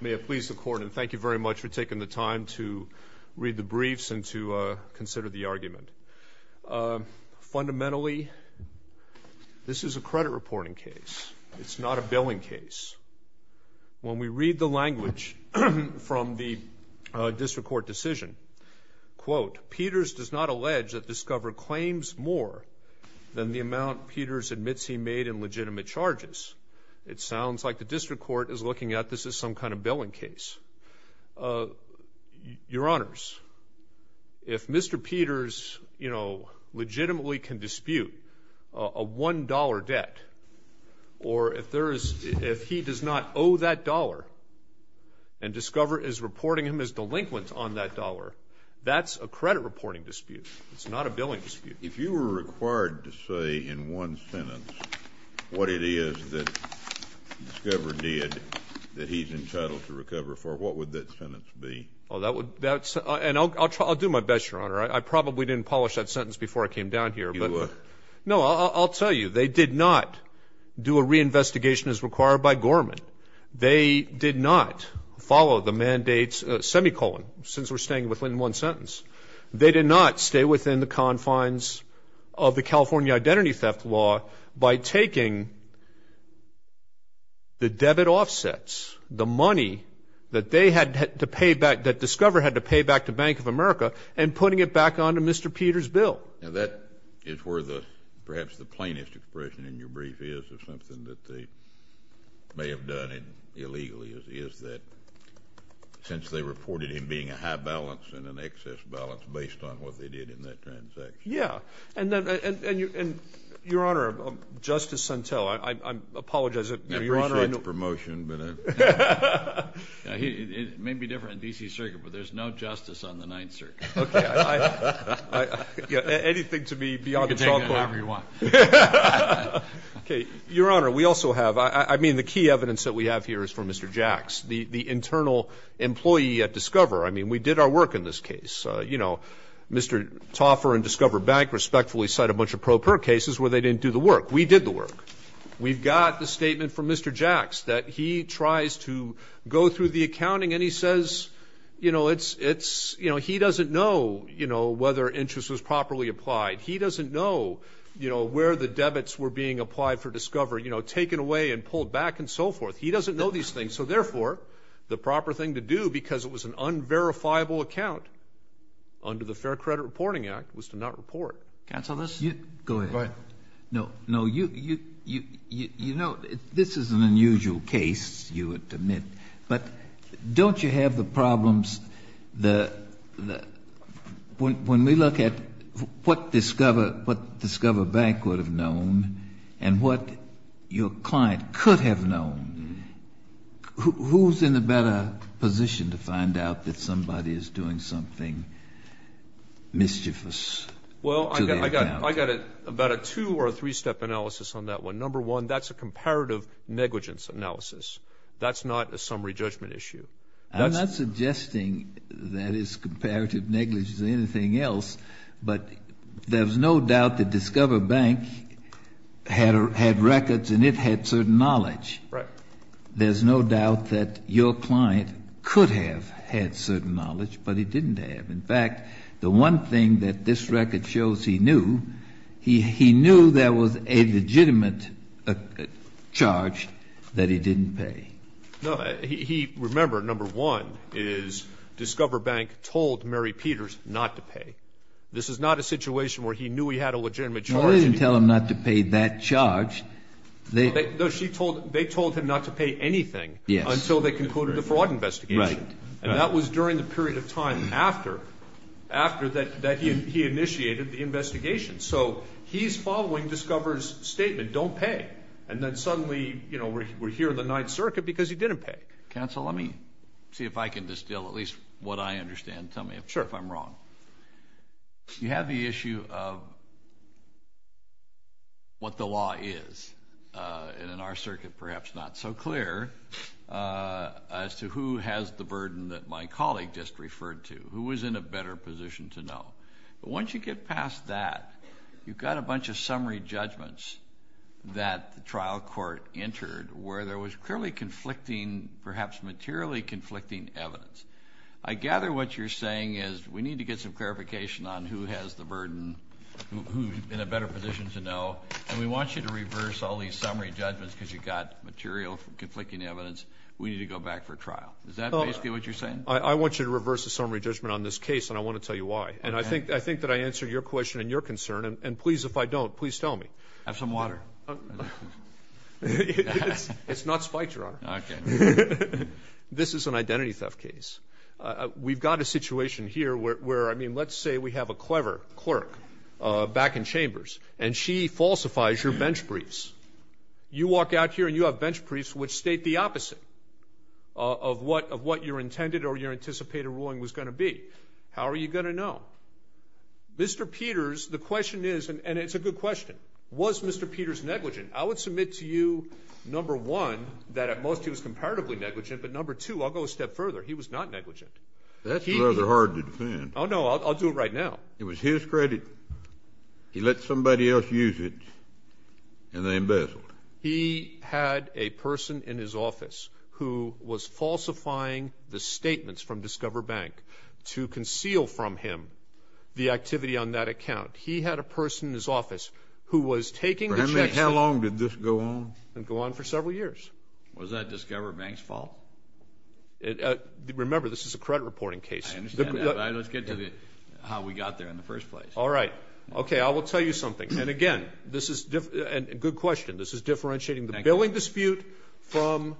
May I please the court, and thank you very much for taking the time to read the briefs and to consider the argument. Fundamentally, this is a credit reporting case. It's not a billing case. When we read the language from the district court decision, quote, Peters does not allege that Discover claims more than the amount Peters admits he made in legitimate charges. It sounds like the district court is looking at this as some kind of billing case. Your Honors, if Mr. Peters, you know, legitimately can dispute a $1 debt, or if he does not owe that dollar and Discover is reporting him as delinquent on that dollar, that's a credit reporting dispute. It's not a billing dispute. If you were required to say in one sentence what it is that Discover did that he's entitled to recover for, what would that sentence be? Oh, that would, that's, and I'll try, I'll do my best, Your Honor. I probably didn't polish that sentence before I came down here. You were. No, I'll tell you, they did not do a reinvestigation as required by Gorman. They did not follow the mandates, semicolon, since we're staying within one sentence. They did not stay within the confines of the California Identity Theft Law by taking the debit offsets, the money that they had to pay back, that Discover had to pay back to Bank of America, and putting it back onto Mr. Peters' bill. Now, that is where the, perhaps the plainest expression in your brief is, or something that they may have done illegally, is that since they reported him being a high balance and an excess balance based on what they did in that transaction. Yeah. And, Your Honor, Justice Suntell, I apologize. I appreciate the promotion. It may be different in D.C. Circuit, but there's no justice on the Ninth Circuit. Anything to be beyond the trial court. You can take it however you want. Okay. Your Honor, we also have, I mean, the key evidence that we have here is from Mr. Jacks, the internal employee at Discover. I mean, we did our work in this case. You know, Mr. Toffer and Discover Bank respectfully cite a bunch of pro per cases where they didn't do the work. We did the work. We've got the statement from Mr. Jacks that he tries to go through the accounting, and he says, you know, it's, you know, he doesn't know, you know, whether interest was properly applied. He doesn't know, you know, where the debits were being applied for Discover, you know, taken away and pulled back and so forth. He doesn't know these things. So, therefore, the proper thing to do because it was an unverifiable account under the Fair Credit Reporting Act was to not report. Counsel, let's go ahead. Go ahead. No, no, you know, this is an unusual case, you would admit. But don't you have the problems, when we look at what Discover Bank would have known and what your client could have known, who's in a better position to find out that somebody is doing something mischievous to their account? Well, I got about a two- or a three-step analysis on that one. Number one, that's a comparative negligence analysis. That's not a summary judgment issue. I'm not suggesting that it's comparative negligence or anything else, but there's no doubt that Discover Bank had records and it had certain knowledge. Right. There's no doubt that your client could have had certain knowledge, but he didn't have. In fact, the one thing that this record shows he knew, he knew there was a legitimate charge that he didn't pay. No. He, remember, number one is Discover Bank told Mary Peters not to pay. This is not a situation where he knew he had a legitimate charge. Well, they didn't tell him not to pay that charge. They told him not to pay anything until they concluded the fraud investigation. Right. And that was during the period of time after that he initiated the investigation. So he's following Discover's statement, don't pay, and then suddenly we're here in the Ninth Circuit because he didn't pay. Counsel, let me see if I can distill at least what I understand. Tell me if I'm wrong. Sure. You have the issue of what the law is. And in our circuit perhaps not so clear as to who has the burden that my colleague just referred to, who is in a better position to know. But once you get past that, you've got a bunch of summary judgments that the trial court entered where there was clearly conflicting, perhaps materially conflicting evidence. I gather what you're saying is we need to get some clarification on who has the burden, who's in a better position to know, and we want you to reverse all these summary judgments because you've got material conflicting evidence. We need to go back for trial. Is that basically what you're saying? I want you to reverse the summary judgment on this case, and I want to tell you why. And I think that I answered your question and your concern. And please, if I don't, please tell me. Have some water. It's not spiked, Your Honor. Okay. This is an identity theft case. We've got a situation here where, I mean, let's say we have a clever clerk back in chambers, and she falsifies your bench briefs. You walk out here and you have bench briefs which state the opposite of what your intended or your anticipated ruling was going to be. How are you going to know? Mr. Peters, the question is, and it's a good question, was Mr. Peters negligent? I would submit to you, number one, that at most he was comparatively negligent, but, number two, I'll go a step further, he was not negligent. That's rather hard to defend. Oh, no, I'll do it right now. It was his credit. He let somebody else use it, and they embezzled it. He had a person in his office who was falsifying the statements from Discover Bank to conceal from him the activity on that account. He had a person in his office who was taking the checks. How long did this go on? It went on for several years. Was that Discover Bank's fault? Remember, this is a credit reporting case. I understand that. Let's get to how we got there in the first place. All right. Okay, I will tell you something. And, again, this is a good question. This is differentiating the billing dispute from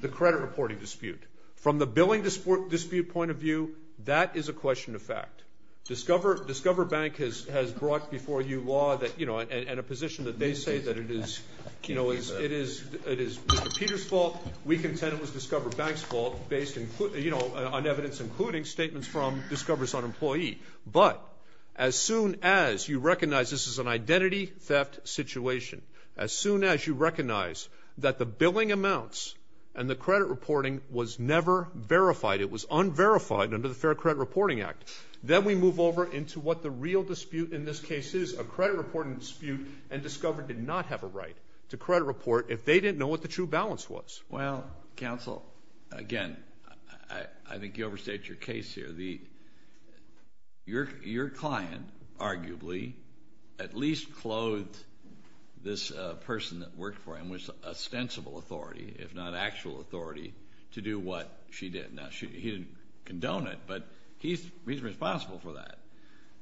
the credit reporting dispute. From the billing dispute point of view, that is a question of fact. Discover Bank has brought before you law and a position that they say that it is Mr. Peter's fault. We contend it was Discover Bank's fault based on evidence, including statements from Discover's own employee. But as soon as you recognize this is an identity theft situation, as soon as you recognize that the billing amounts and the credit reporting was never verified, it was unverified under the Fair Credit Reporting Act, then we move over into what the real dispute in this case is, a credit reporting dispute, and Discover did not have a right to credit report if they didn't know what the true balance was. Well, counsel, again, I think you overstate your case here. Your client, arguably, at least clothed this person that worked for him with ostensible authority, if not actual authority, to do what she did. Now, he didn't condone it, but he's responsible for that.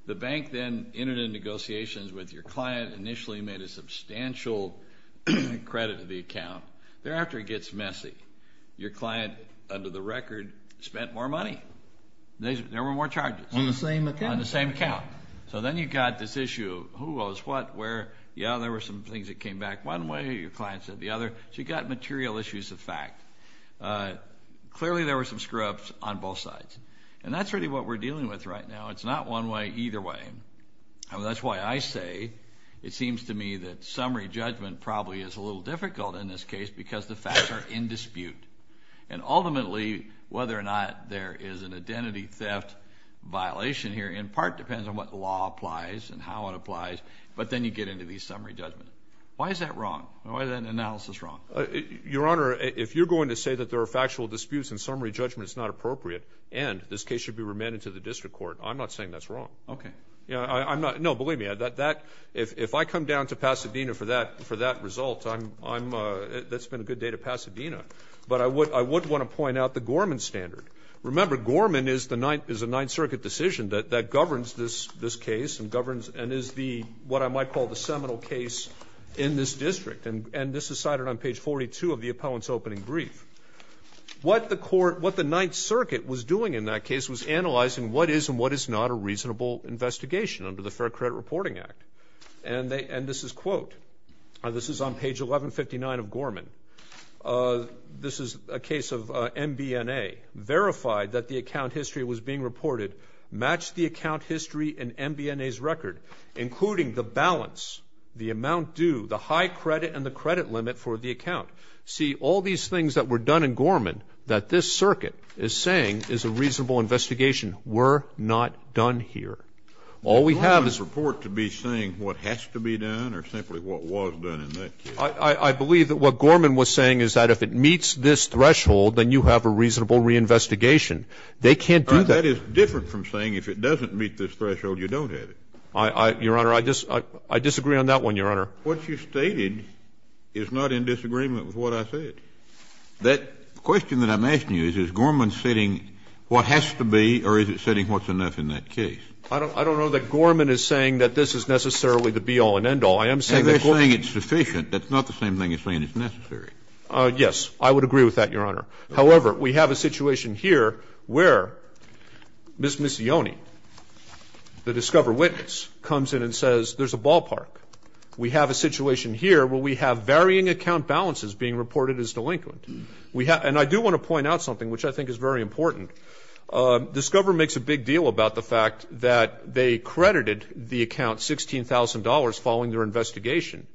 The bank then entered into negotiations with your client, initially made a substantial credit to the account. Thereafter, it gets messy. Your client, under the record, spent more money. There were more charges. On the same account? On the same account. So then you've got this issue of who owes what, where. Yeah, there were some things that came back one way, your client said the other. So you've got material issues of fact. Clearly, there were some screw-ups on both sides. And that's really what we're dealing with right now. It's not one way, either way. That's why I say it seems to me that summary judgment probably is a little difficult in this case because the facts are in dispute. And ultimately, whether or not there is an identity theft violation here in part depends on what law applies and how it applies, but then you get into these summary judgments. Why is that wrong? Why is that analysis wrong? Your Honor, if you're going to say that there are factual disputes and summary judgment is not appropriate and this case should be remanded to the district court, I'm not saying that's wrong. Okay. No, believe me. If I come down to Pasadena for that result, that's been a good day to Pasadena. But I would want to point out the Gorman standard. Remember, Gorman is a Ninth Circuit decision that governs this case and is what I might call the seminal case in this district. And this is cited on page 42 of the appellant's opening brief. What the court, what the Ninth Circuit was doing in that case was analyzing what is and what is not a reasonable investigation under the Fair Credit Reporting Act. And this is quote. This is on page 1159 of Gorman. This is a case of MBNA. Verified that the account history was being reported. Matched the account history and MBNA's record, including the balance, the amount due, the high credit and the credit limit for the account. See, all these things that were done in Gorman that this circuit is saying is a reasonable investigation. We're not done here. All we have is. Is Gorman's report to be saying what has to be done or simply what was done in that case? I believe that what Gorman was saying is that if it meets this threshold, then you have a reasonable reinvestigation. They can't do that. That is different from saying if it doesn't meet this threshold, you don't have it. Your Honor, I disagree on that one, Your Honor. What you stated is not in disagreement with what I said. That question that I'm asking you is, is Gorman stating what has to be or is it stating what's enough in that case? I don't know that Gorman is saying that this is necessarily the be-all and end-all. I am saying that Gorman. They're saying it's sufficient. That's not the same thing as saying it's necessary. Yes. I would agree with that, Your Honor. However, we have a situation here where Ms. Missioni, the discover witness, comes in and says there's a ballpark. We have a situation here where we have varying account balances being reported as delinquent. And I do want to point out something, which I think is very important. Discover makes a big deal about the fact that they credited the account $16,000 following their investigation.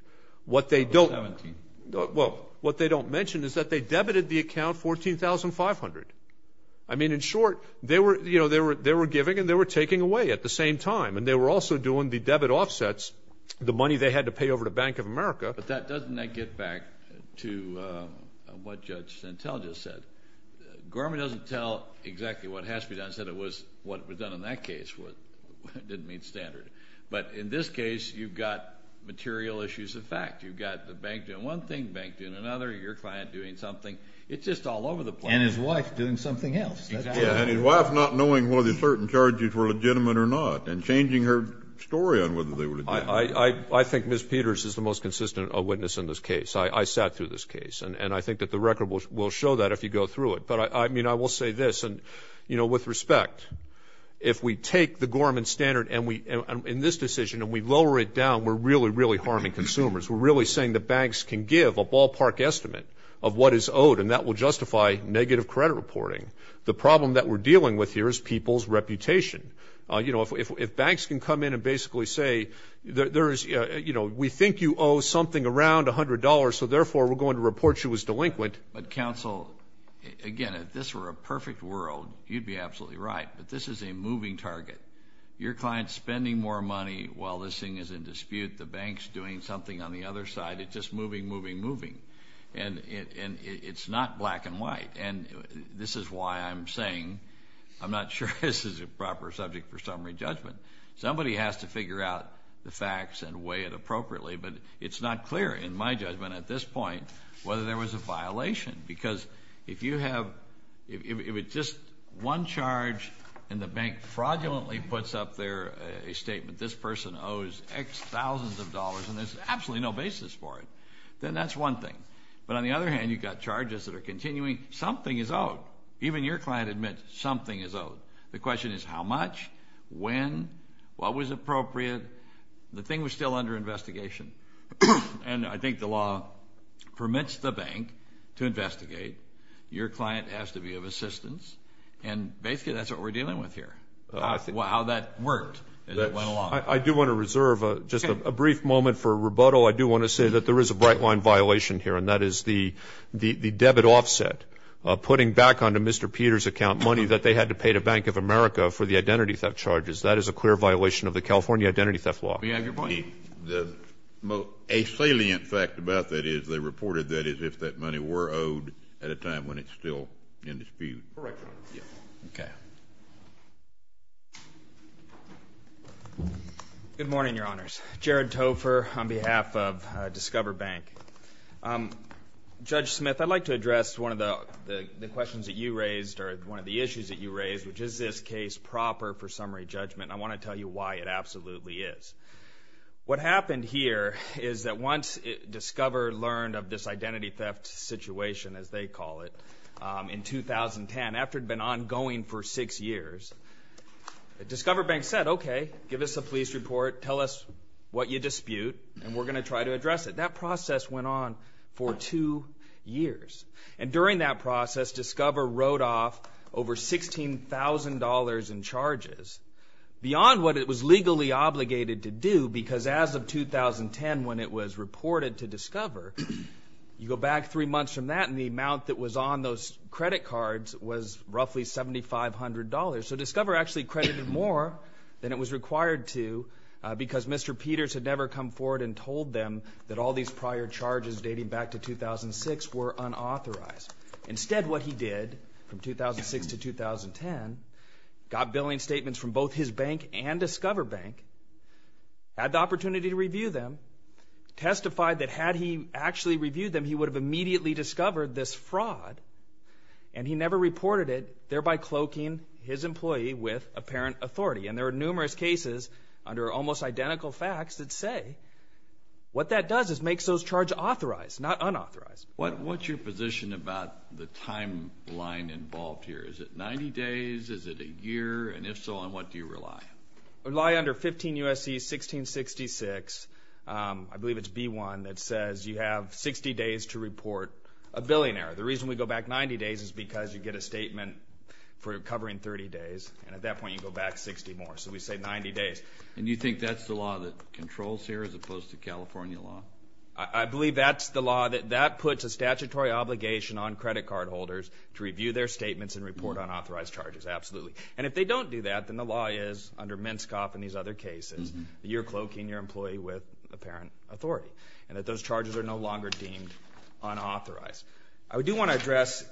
What they don't mention is that they debited the account $14,500. I mean, in short, they were giving and they were taking away at the same time, and they were also doing the debit offsets, the money they had to pay over to Bank of America. But doesn't that get back to what Judge Santel just said? Gorman doesn't tell exactly what has to be done. He said it was what was done in that case. It didn't meet standard. But in this case, you've got material issues of fact. You've got the bank doing one thing, the bank doing another, your client doing something. It's just all over the place. And his wife doing something else. And his wife not knowing whether certain charges were legitimate or not and changing her story on whether they were legitimate. I think Ms. Peters is the most consistent witness in this case. I sat through this case. And I think that the record will show that if you go through it. But, I mean, I will say this. And, you know, with respect, if we take the Gorman standard in this decision and we lower it down, we're really, really harming consumers. We're really saying that banks can give a ballpark estimate of what is owed, and that will justify negative credit reporting. The problem that we're dealing with here is people's reputation. You know, if banks can come in and basically say, you know, we think you owe something around $100, so therefore we're going to report you as delinquent. But, counsel, again, if this were a perfect world, you'd be absolutely right. But this is a moving target. Your client's spending more money while this thing is in dispute. The bank's doing something on the other side. It's just moving, moving, moving. And it's not black and white. And this is why I'm saying I'm not sure this is a proper subject for summary judgment. Somebody has to figure out the facts and weigh it appropriately, but it's not clear in my judgment at this point whether there was a violation. Because if you have just one charge and the bank fraudulently puts up there a statement, this person owes X thousands of dollars and there's absolutely no basis for it, then that's one thing. But on the other hand, you've got charges that are continuing. Something is owed. Even your client admits something is owed. The question is how much, when, what was appropriate. The thing was still under investigation. And I think the law permits the bank to investigate. Your client has to be of assistance. And basically that's what we're dealing with here, how that worked as it went along. I do want to reserve just a brief moment for rebuttal. I do want to say that there is a bright-line violation here, and that is the debit offset, putting back onto Mr. Peters' account money that they had to pay to Bank of America for the identity theft charges. That is a clear violation of the California identity theft law. Do you have your point? A salient fact about that is they reported that as if that money were owed at a time when it's still in dispute. Correct, Your Honor. Okay. Good morning, Your Honors. Jared Topher on behalf of Discover Bank. Judge Smith, I'd like to address one of the questions that you raised or one of the issues that you raised, which is, is this case proper for summary judgment? I want to tell you why it absolutely is. What happened here is that once Discover learned of this identity theft situation, as they call it, in 2010, after it had been ongoing for six years, Discover Bank said, okay, give us a police report, tell us what you dispute, and we're going to try to address it. That process went on for two years. And during that process, Discover wrote off over $16,000 in charges, beyond what it was legally obligated to do, because as of 2010, when it was reported to Discover, you go back three months from that, and the amount that was on those credit cards was roughly $7,500. So Discover actually credited more than it was required to, because Mr. Peters had never come forward and told them that all these prior charges dating back to 2006 were unauthorized. Instead, what he did from 2006 to 2010, got billing statements from both his bank and Discover Bank, had the opportunity to review them, testified that had he actually reviewed them, he would have immediately discovered this fraud, and he never reported it, thereby cloaking his employee with apparent authority. And there are numerous cases under almost identical facts that say what that does is makes those charges authorized, not unauthorized. What's your position about the timeline involved here? Is it 90 days? Is it a year? And if so, on what do you rely? I rely under 15 U.S.C. 1666. I believe it's B1 that says you have 60 days to report a billionaire. The reason we go back 90 days is because you get a statement for covering 30 days, and at that point you go back 60 more. So we say 90 days. And you think that's the law that controls here, as opposed to California law? I believe that's the law. That puts a statutory obligation on credit card holders to review their statements and report unauthorized charges, absolutely. And if they don't do that, then the law is, under Minskoff and these other cases, you're cloaking your employee with apparent authority, and that those charges are no longer deemed unauthorized. I do want to address,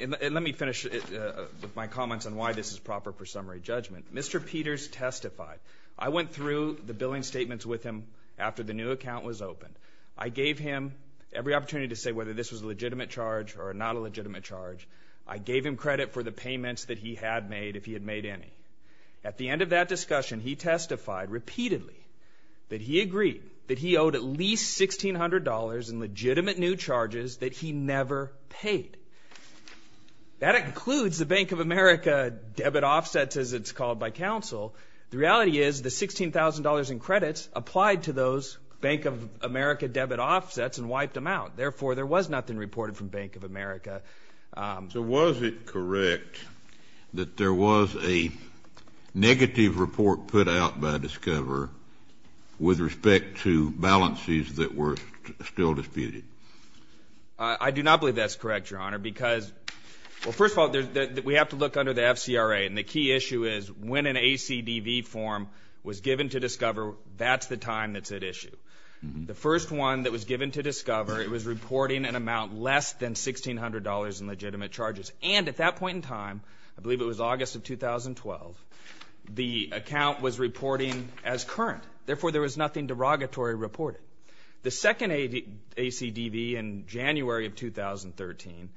and let me finish with my comments on why this is proper for summary judgment. Mr. Peters testified. I went through the billing statements with him after the new account was opened. I gave him every opportunity to say whether this was a legitimate charge or not a legitimate charge. I gave him credit for the payments that he had made, if he had made any. At the end of that discussion, he testified repeatedly that he agreed that he owed at least $1,600 in legitimate new charges that he never paid. That includes the Bank of America debit offsets, as it's called by counsel. The reality is the $16,000 in credits applied to those Bank of America debit offsets and wiped them out. Therefore, there was nothing reported from Bank of America. So was it correct that there was a negative report put out by Discover with respect to balances that were still disputed? I do not believe that's correct, Your Honor, because, well, first of all, we have to look under the FCRA, and the key issue is when an ACDV form was given to Discover, that's the time that's at issue. The first one that was given to Discover, it was reporting an amount less than $1,600 in legitimate charges. And at that point in time, I believe it was August of 2012, the account was reporting as current. Therefore, there was nothing derogatory reported. The second ACDV in January of 2013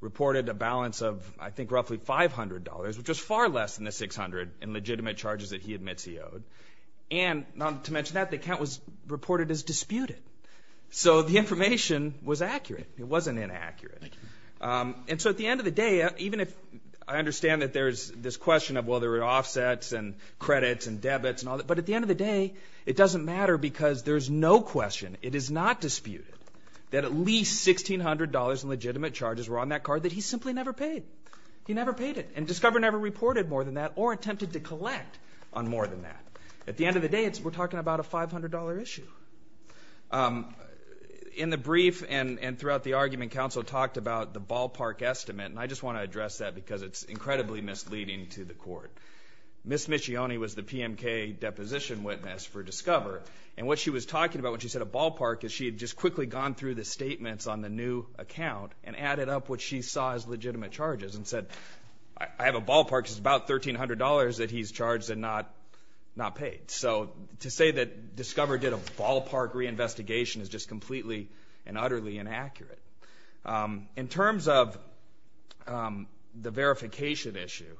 reported a balance of, I think, roughly $500, which was far less than the $600 in legitimate charges that he admits he owed. And not to mention that, the account was reported as disputed. So the information was accurate. It wasn't inaccurate. And so at the end of the day, even if I understand that there's this question of, well, there were offsets and credits and debits and all that, but at the end of the day, it doesn't matter because there's no question. It is not disputed that at least $1,600 in legitimate charges were on that card that he simply never paid. He never paid it. And Discover never reported more than that or attempted to collect on more than that. At the end of the day, we're talking about a $500 issue. In the brief and throughout the argument, counsel talked about the ballpark estimate, and I just want to address that because it's incredibly misleading to the court. Ms. Miccioni was the PMK deposition witness for Discover, and what she was talking about when she said a ballpark is she had just quickly gone through the statements on the new account and added up what she saw as legitimate charges and said, I have a ballpark. It's about $1,300 that he's charged and not paid. So to say that Discover did a ballpark reinvestigation is just completely and utterly inaccurate. In terms of the verification issue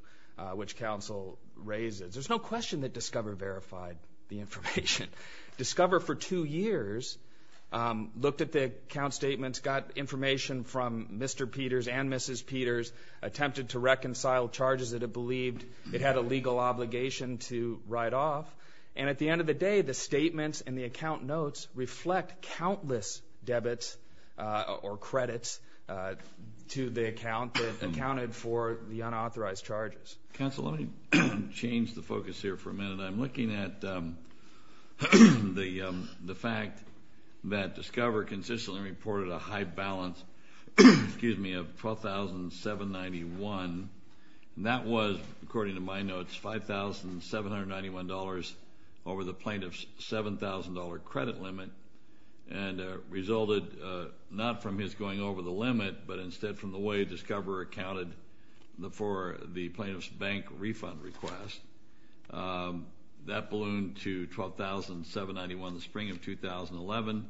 which counsel raises, there's no question that Discover verified the information. Discover for two years looked at the account statements, got information from Mr. Peters and Mrs. Peters, attempted to reconcile charges that it believed it had a legal obligation to write off, and at the end of the day, the statements and the account notes reflect countless debits or credits to the account that accounted for the unauthorized charges. Counsel, let me change the focus here for a minute. I'm looking at the fact that Discover consistently reported a high balance of $12,791. That was, according to my notes, $5,791 over the plaintiff's $7,000 credit limit and resulted not from his going over the limit, but instead from the way Discover accounted for the plaintiff's bank refund request. That ballooned to $12,791 in the spring of 2011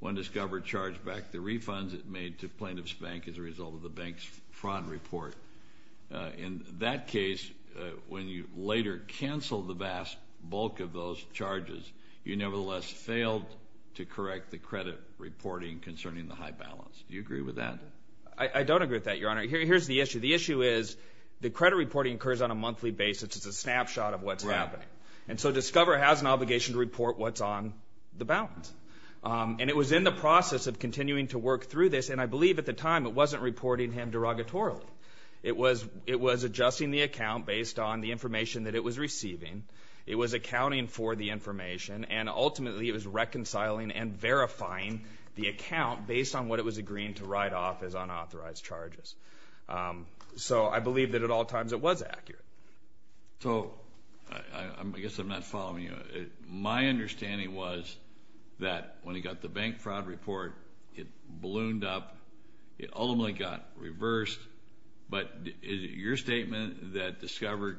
when Discover charged back the refunds it made to plaintiff's bank as a result of the bank's fraud report. In that case, when you later canceled the vast bulk of those charges, you nevertheless failed to correct the credit reporting concerning the high balance. Do you agree with that? I don't agree with that, Your Honor. Here's the issue. The issue is the credit reporting occurs on a monthly basis. It's a snapshot of what's happening. And so Discover has an obligation to report what's on the balance. And it was in the process of continuing to work through this, and I believe at the time it wasn't reporting him derogatorily. It was adjusting the account based on the information that it was receiving. It was accounting for the information, and ultimately it was reconciling and verifying the account based on what it was agreeing to write off as unauthorized charges. So I believe that at all times it was accurate. So I guess I'm not following you. My understanding was that when he got the bank fraud report, it ballooned up. It ultimately got reversed. But is it your statement that Discover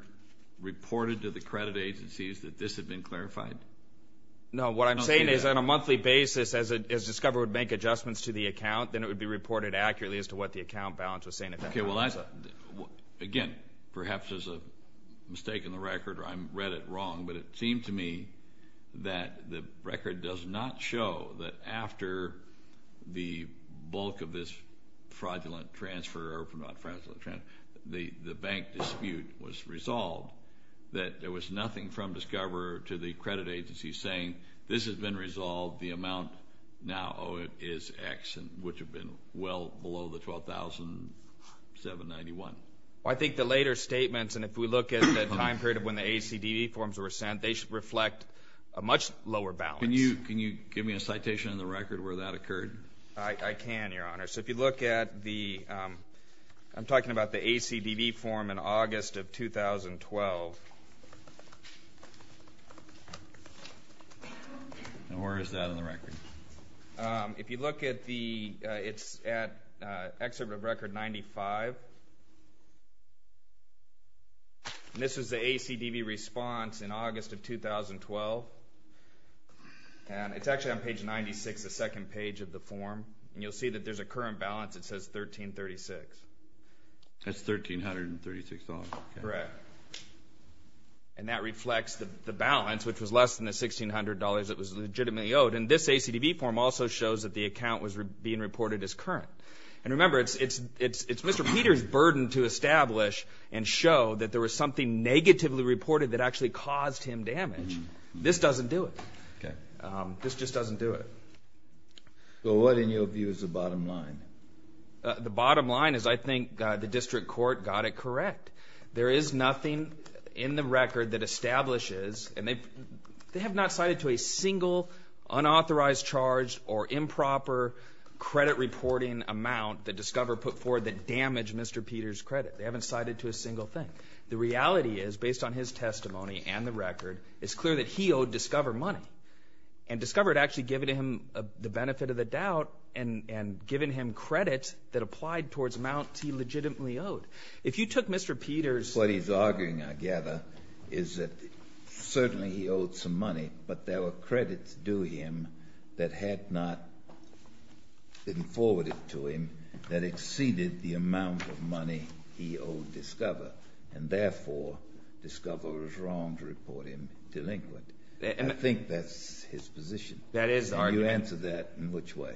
reported to the credit agencies that this had been clarified? No, what I'm saying is on a monthly basis, as Discover would make adjustments to the account, then it would be reported accurately as to what the account balance was saying. Okay, well, again, perhaps there's a mistake in the record, or I read it wrong, but it seemed to me that the record does not show that after the bulk of this fraudulent transfer, or not fraudulent transfer, the bank dispute was resolved, that there was nothing from Discover to the credit agencies saying this has been resolved, the amount now is X, which would have been well below the $12,791. Well, I think the later statements, and if we look at the time period of when the ACDD forms were sent, they should reflect a much lower balance. Can you give me a citation in the record where that occurred? I can, Your Honor. So if you look at the ACDD form in August of 2012. And where is that in the record? If you look at the, it's at Excerpt of Record 95, and this is the ACDD response in August of 2012, and it's actually on page 96, the second page of the form, and you'll see that there's a current balance that says $1,336. That's $1,336. Correct. And that reflects the balance, which was less than the $1,600 that was legitimately owed. And this ACDD form also shows that the account was being reported as current. And remember, it's Mr. Peter's burden to establish and show that there was something negatively reported that actually caused him damage. This doesn't do it. This just doesn't do it. Well, what, in your view, is the bottom line? The bottom line is I think the district court got it correct. There is nothing in the record that establishes, and they have not cited to a single unauthorized charge or improper credit reporting amount that Discover put forward that damaged Mr. Peter's credit. They haven't cited to a single thing. The reality is, based on his testimony and the record, it's clear that he owed Discover money. And Discover had actually given him the benefit of the doubt and given him credit that applied towards amounts he legitimately owed. If you took Mr. Peter's ---- What he's arguing, I gather, is that certainly he owed some money, but there were credits due him that had not been forwarded to him that exceeded the amount of money he owed Discover, and therefore Discover was wrong to report him delinquent. I think that's his position. That is the argument. And you answer that in which way?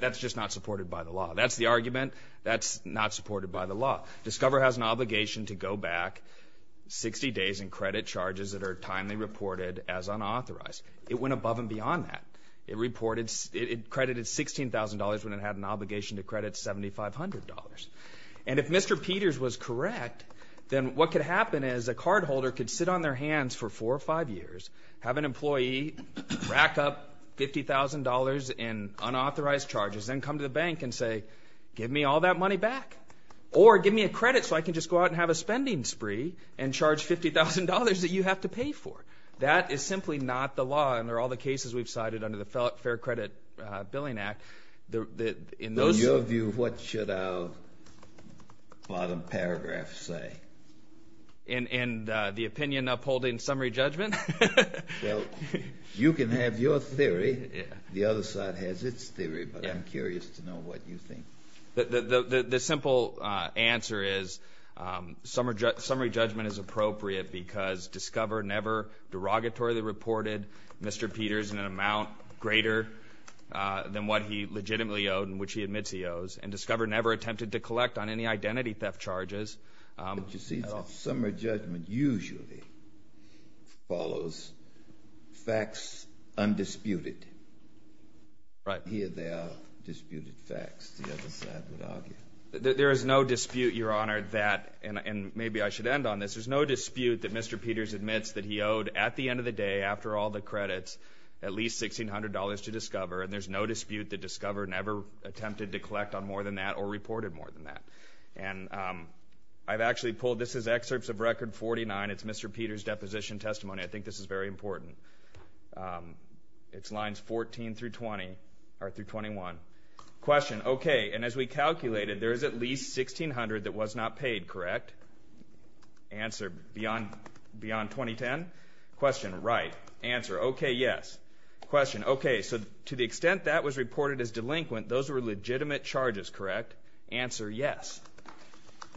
That's just not supported by the law. That's the argument. That's not supported by the law. Discover has an obligation to go back 60 days and credit charges that are timely reported as unauthorized. It went above and beyond that. It credited $16,000 when it had an obligation to credit $7,500. And if Mr. Peter's was correct, then what could happen is a cardholder could sit on their hands for four or five years, have an employee rack up $50,000 in unauthorized charges, then come to the bank and say, give me all that money back, or give me a credit so I can just go out and have a spending spree and charge $50,000 that you have to pay for. That is simply not the law, and there are all the cases we've cited under the Fair Credit Billing Act. In your view, what should our bottom paragraph say? In the opinion upholding summary judgment? Well, you can have your theory. The other side has its theory, but I'm curious to know what you think. The simple answer is summary judgment is appropriate because Discover never derogatorily reported Mr. Peter's in an amount greater than what he legitimately owed and which he admits he owes, and Discover never attempted to collect on any identity theft charges. But you see, summary judgment usually follows facts undisputed. Here they are, disputed facts, the other side would argue. There is no dispute, Your Honor, that, and maybe I should end on this, there's no dispute that Mr. Peter's admits that he owed, at the end of the day, after all the credits, at least $1,600 to Discover, and there's no dispute that Discover never attempted to collect on more than that or reported more than that. And I've actually pulled this as excerpts of Record 49. It's Mr. Peter's deposition testimony. I think this is very important. It's lines 14 through 21. Question. Okay, and as we calculated, there is at least $1,600 that was not paid, correct? Answer. Beyond 2010? Question. Right. Answer. Okay, yes. Question. Okay, so to the extent that was reported as delinquent, those were legitimate charges, correct? Answer. Yes.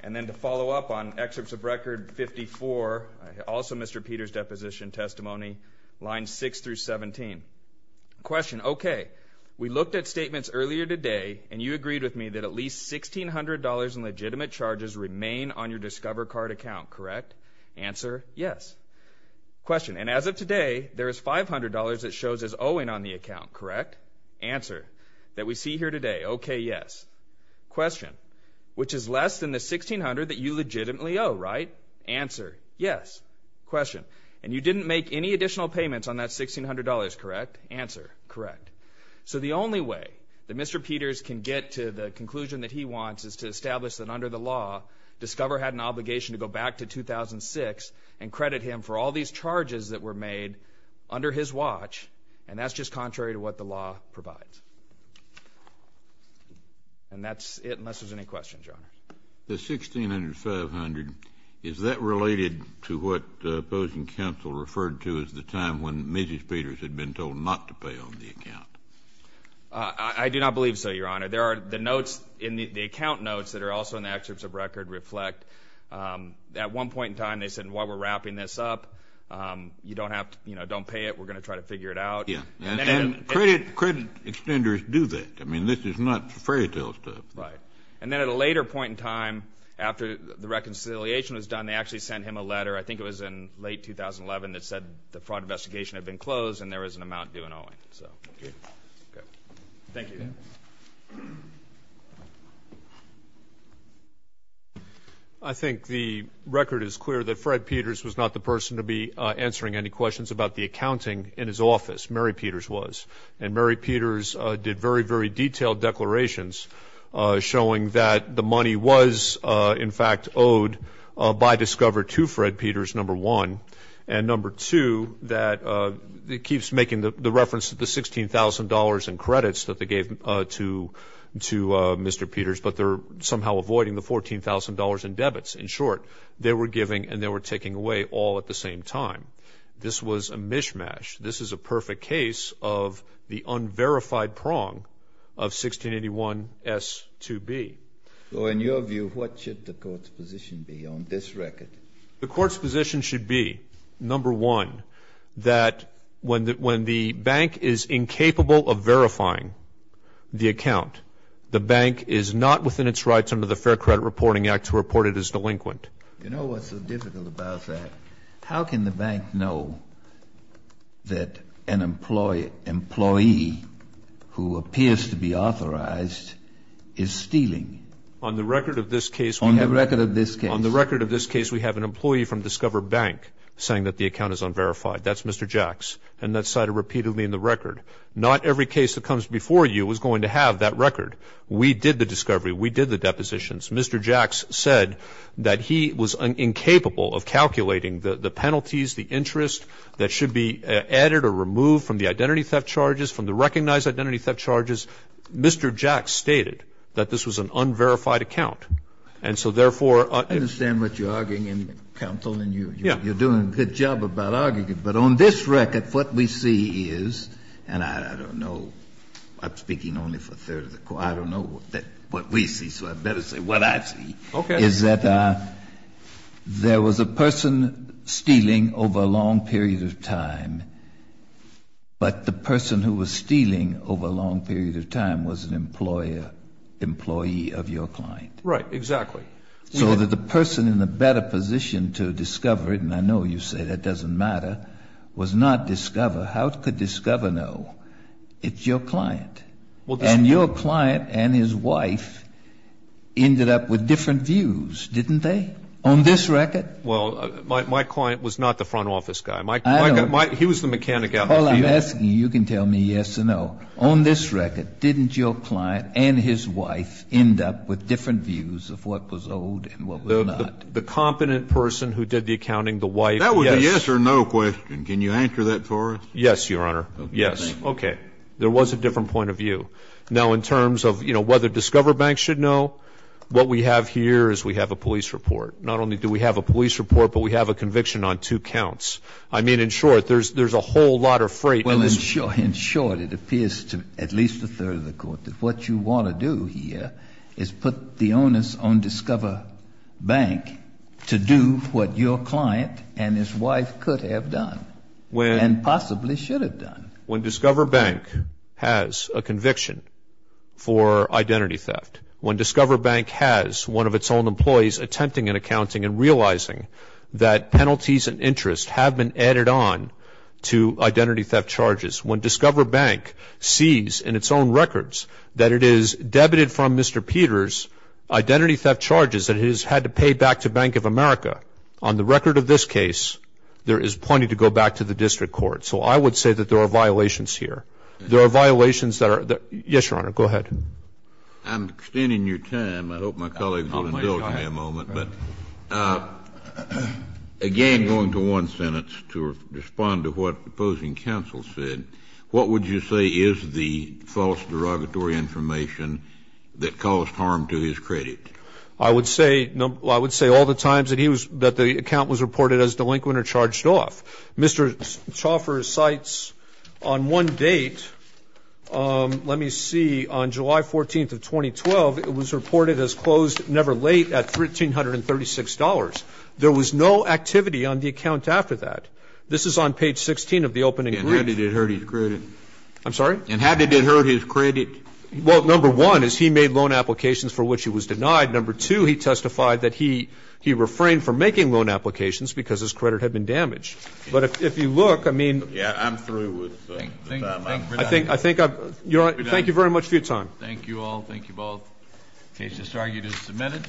And then to follow up on excerpts of Record 54, also Mr. Peter's deposition testimony, lines 6 through 17. Question. Okay, we looked at statements earlier today, and you agreed with me that at least $1,600 in legitimate charges remain on your Discover card account, correct? Answer. Yes. Question. And as of today, there is $500 that shows as owing on the account, correct? Answer. That we see here today. Okay, yes. Question. Which is less than the $1,600 that you legitimately owe, right? Answer. Yes. Question. And you didn't make any additional payments on that $1,600, correct? Answer. Correct. So the only way that Mr. Peters can get to the conclusion that he wants is to establish that under the law, Discover had an obligation to go back to 2006 and credit him for all these charges that were made under his watch, and that's just contrary to what the law provides. And that's it, unless there's any questions, Your Honor. The $1,600 and $500, is that related to what the opposing counsel referred to as the time when Mrs. Peters had been told not to pay on the account? I do not believe so, Your Honor. The account notes that are also in the excerpts of record reflect that at one point in time they said, While we're wrapping this up, you don't have to pay it. We're going to try to figure it out. And credit extenders do that. I mean, this is not fairy tale stuff. Right. And then at a later point in time, after the reconciliation was done, they actually sent him a letter, I think it was in late 2011, that said the fraud investigation had been closed and there was an amount due in owing. Okay. Thank you. Thank you. I think the record is clear that Fred Peters was not the person to be answering any questions about the accounting in his office. Mary Peters was. And Mary Peters did very, very detailed declarations showing that the money was, in fact, owed by Discover to Fred Peters, number one. And number two, that it keeps making the reference to the $16,000 in credits that they gave to Mr. Peters, but they're somehow avoiding the $14,000 in debits. In short, they were giving and they were taking away all at the same time. This was a mishmash. This is a perfect case of the unverified prong of 1681S2B. So in your view, what should the Court's position be on this record? The Court's position should be, number one, that when the bank is incapable of verifying the account, the bank is not within its rights under the Fair Credit Reporting Act to report it as delinquent. You know what's so difficult about that? How can the bank know that an employee who appears to be authorized is stealing? On the record of this case, we have an employee from Discover Bank saying that the account is unverified. That's Mr. Jacks. And that's cited repeatedly in the record. Not every case that comes before you is going to have that record. We did the discovery. We did the depositions. Mr. Jacks said that he was incapable of calculating the penalties, the interest that should be added or removed from the identity theft charges, from the recognized identity theft charges. Mr. Jacks stated that this was an unverified account. And so therefore ---- Kennedy, I understand what you're arguing, counsel, and you're doing a good job about arguing it. But on this record, what we see is, and I don't know, I'm speaking only for a third of the Court. I don't know what we see, so I better say what I see. Okay. Is that there was a person stealing over a long period of time, but the person who was stealing over a long period of time was an employer, employee of your client. Right, exactly. So that the person in the better position to discover it, and I know you say that doesn't matter, was not discover. How could discover know? It's your client. And your client and his wife ended up with different views, didn't they, on this record? Well, my client was not the front office guy. I don't know. He was the mechanic out in the field. Paul, I'm asking you. You can tell me yes or no. On this record, didn't your client and his wife end up with different views of what was owed and what was not? The competent person who did the accounting, the wife, yes. That was a yes or no question. Can you answer that for us? Yes, Your Honor. Yes. Okay. There was a different point of view. Now, in terms of, you know, whether Discover Bank should know, what we have here is we have a police report. Not only do we have a police report, but we have a conviction on two counts. I mean, in short, there's a whole lot of freight. Well, in short, it appears to at least a third of the court that what you want to do here is put the onus on Discover Bank to do what your client and his wife could have done and possibly should have done. When Discover Bank has a conviction for identity theft, when Discover Bank has one of its own employees attempting an accounting and realizing that penalties and interest have been added on to identity theft charges, when Discover Bank sees in its own records that it is debited from Mr. Peter's identity theft charges that it has had to pay back to Bank of America, on the record of this case, there is plenty to go back to the district court. So I would say that there are violations here. There are violations that are the yes, Your Honor. Go ahead. I'm extending your time. I hope my colleagues will indulge me a moment. But again, going to one sentence to respond to what the opposing counsel said, what would you say is the false derogatory information that caused harm to his credit? I would say all the times that the account was reported as delinquent or charged off. Mr. Chauffer cites on one date, let me see, on July 14th of 2012, it was reported as closed never late at $1,336. There was no activity on the account after that. This is on page 16 of the opening brief. And how did it hurt his credit? I'm sorry? And how did it hurt his credit? Well, number one is he made loan applications for which he was denied. Number two, he testified that he refrained from making loan applications because his credit had been damaged. But if you look, I mean. Yes, I'm through with that. Thank you very much for your time. Thank you all. Thank you both. The case is argued and submitted.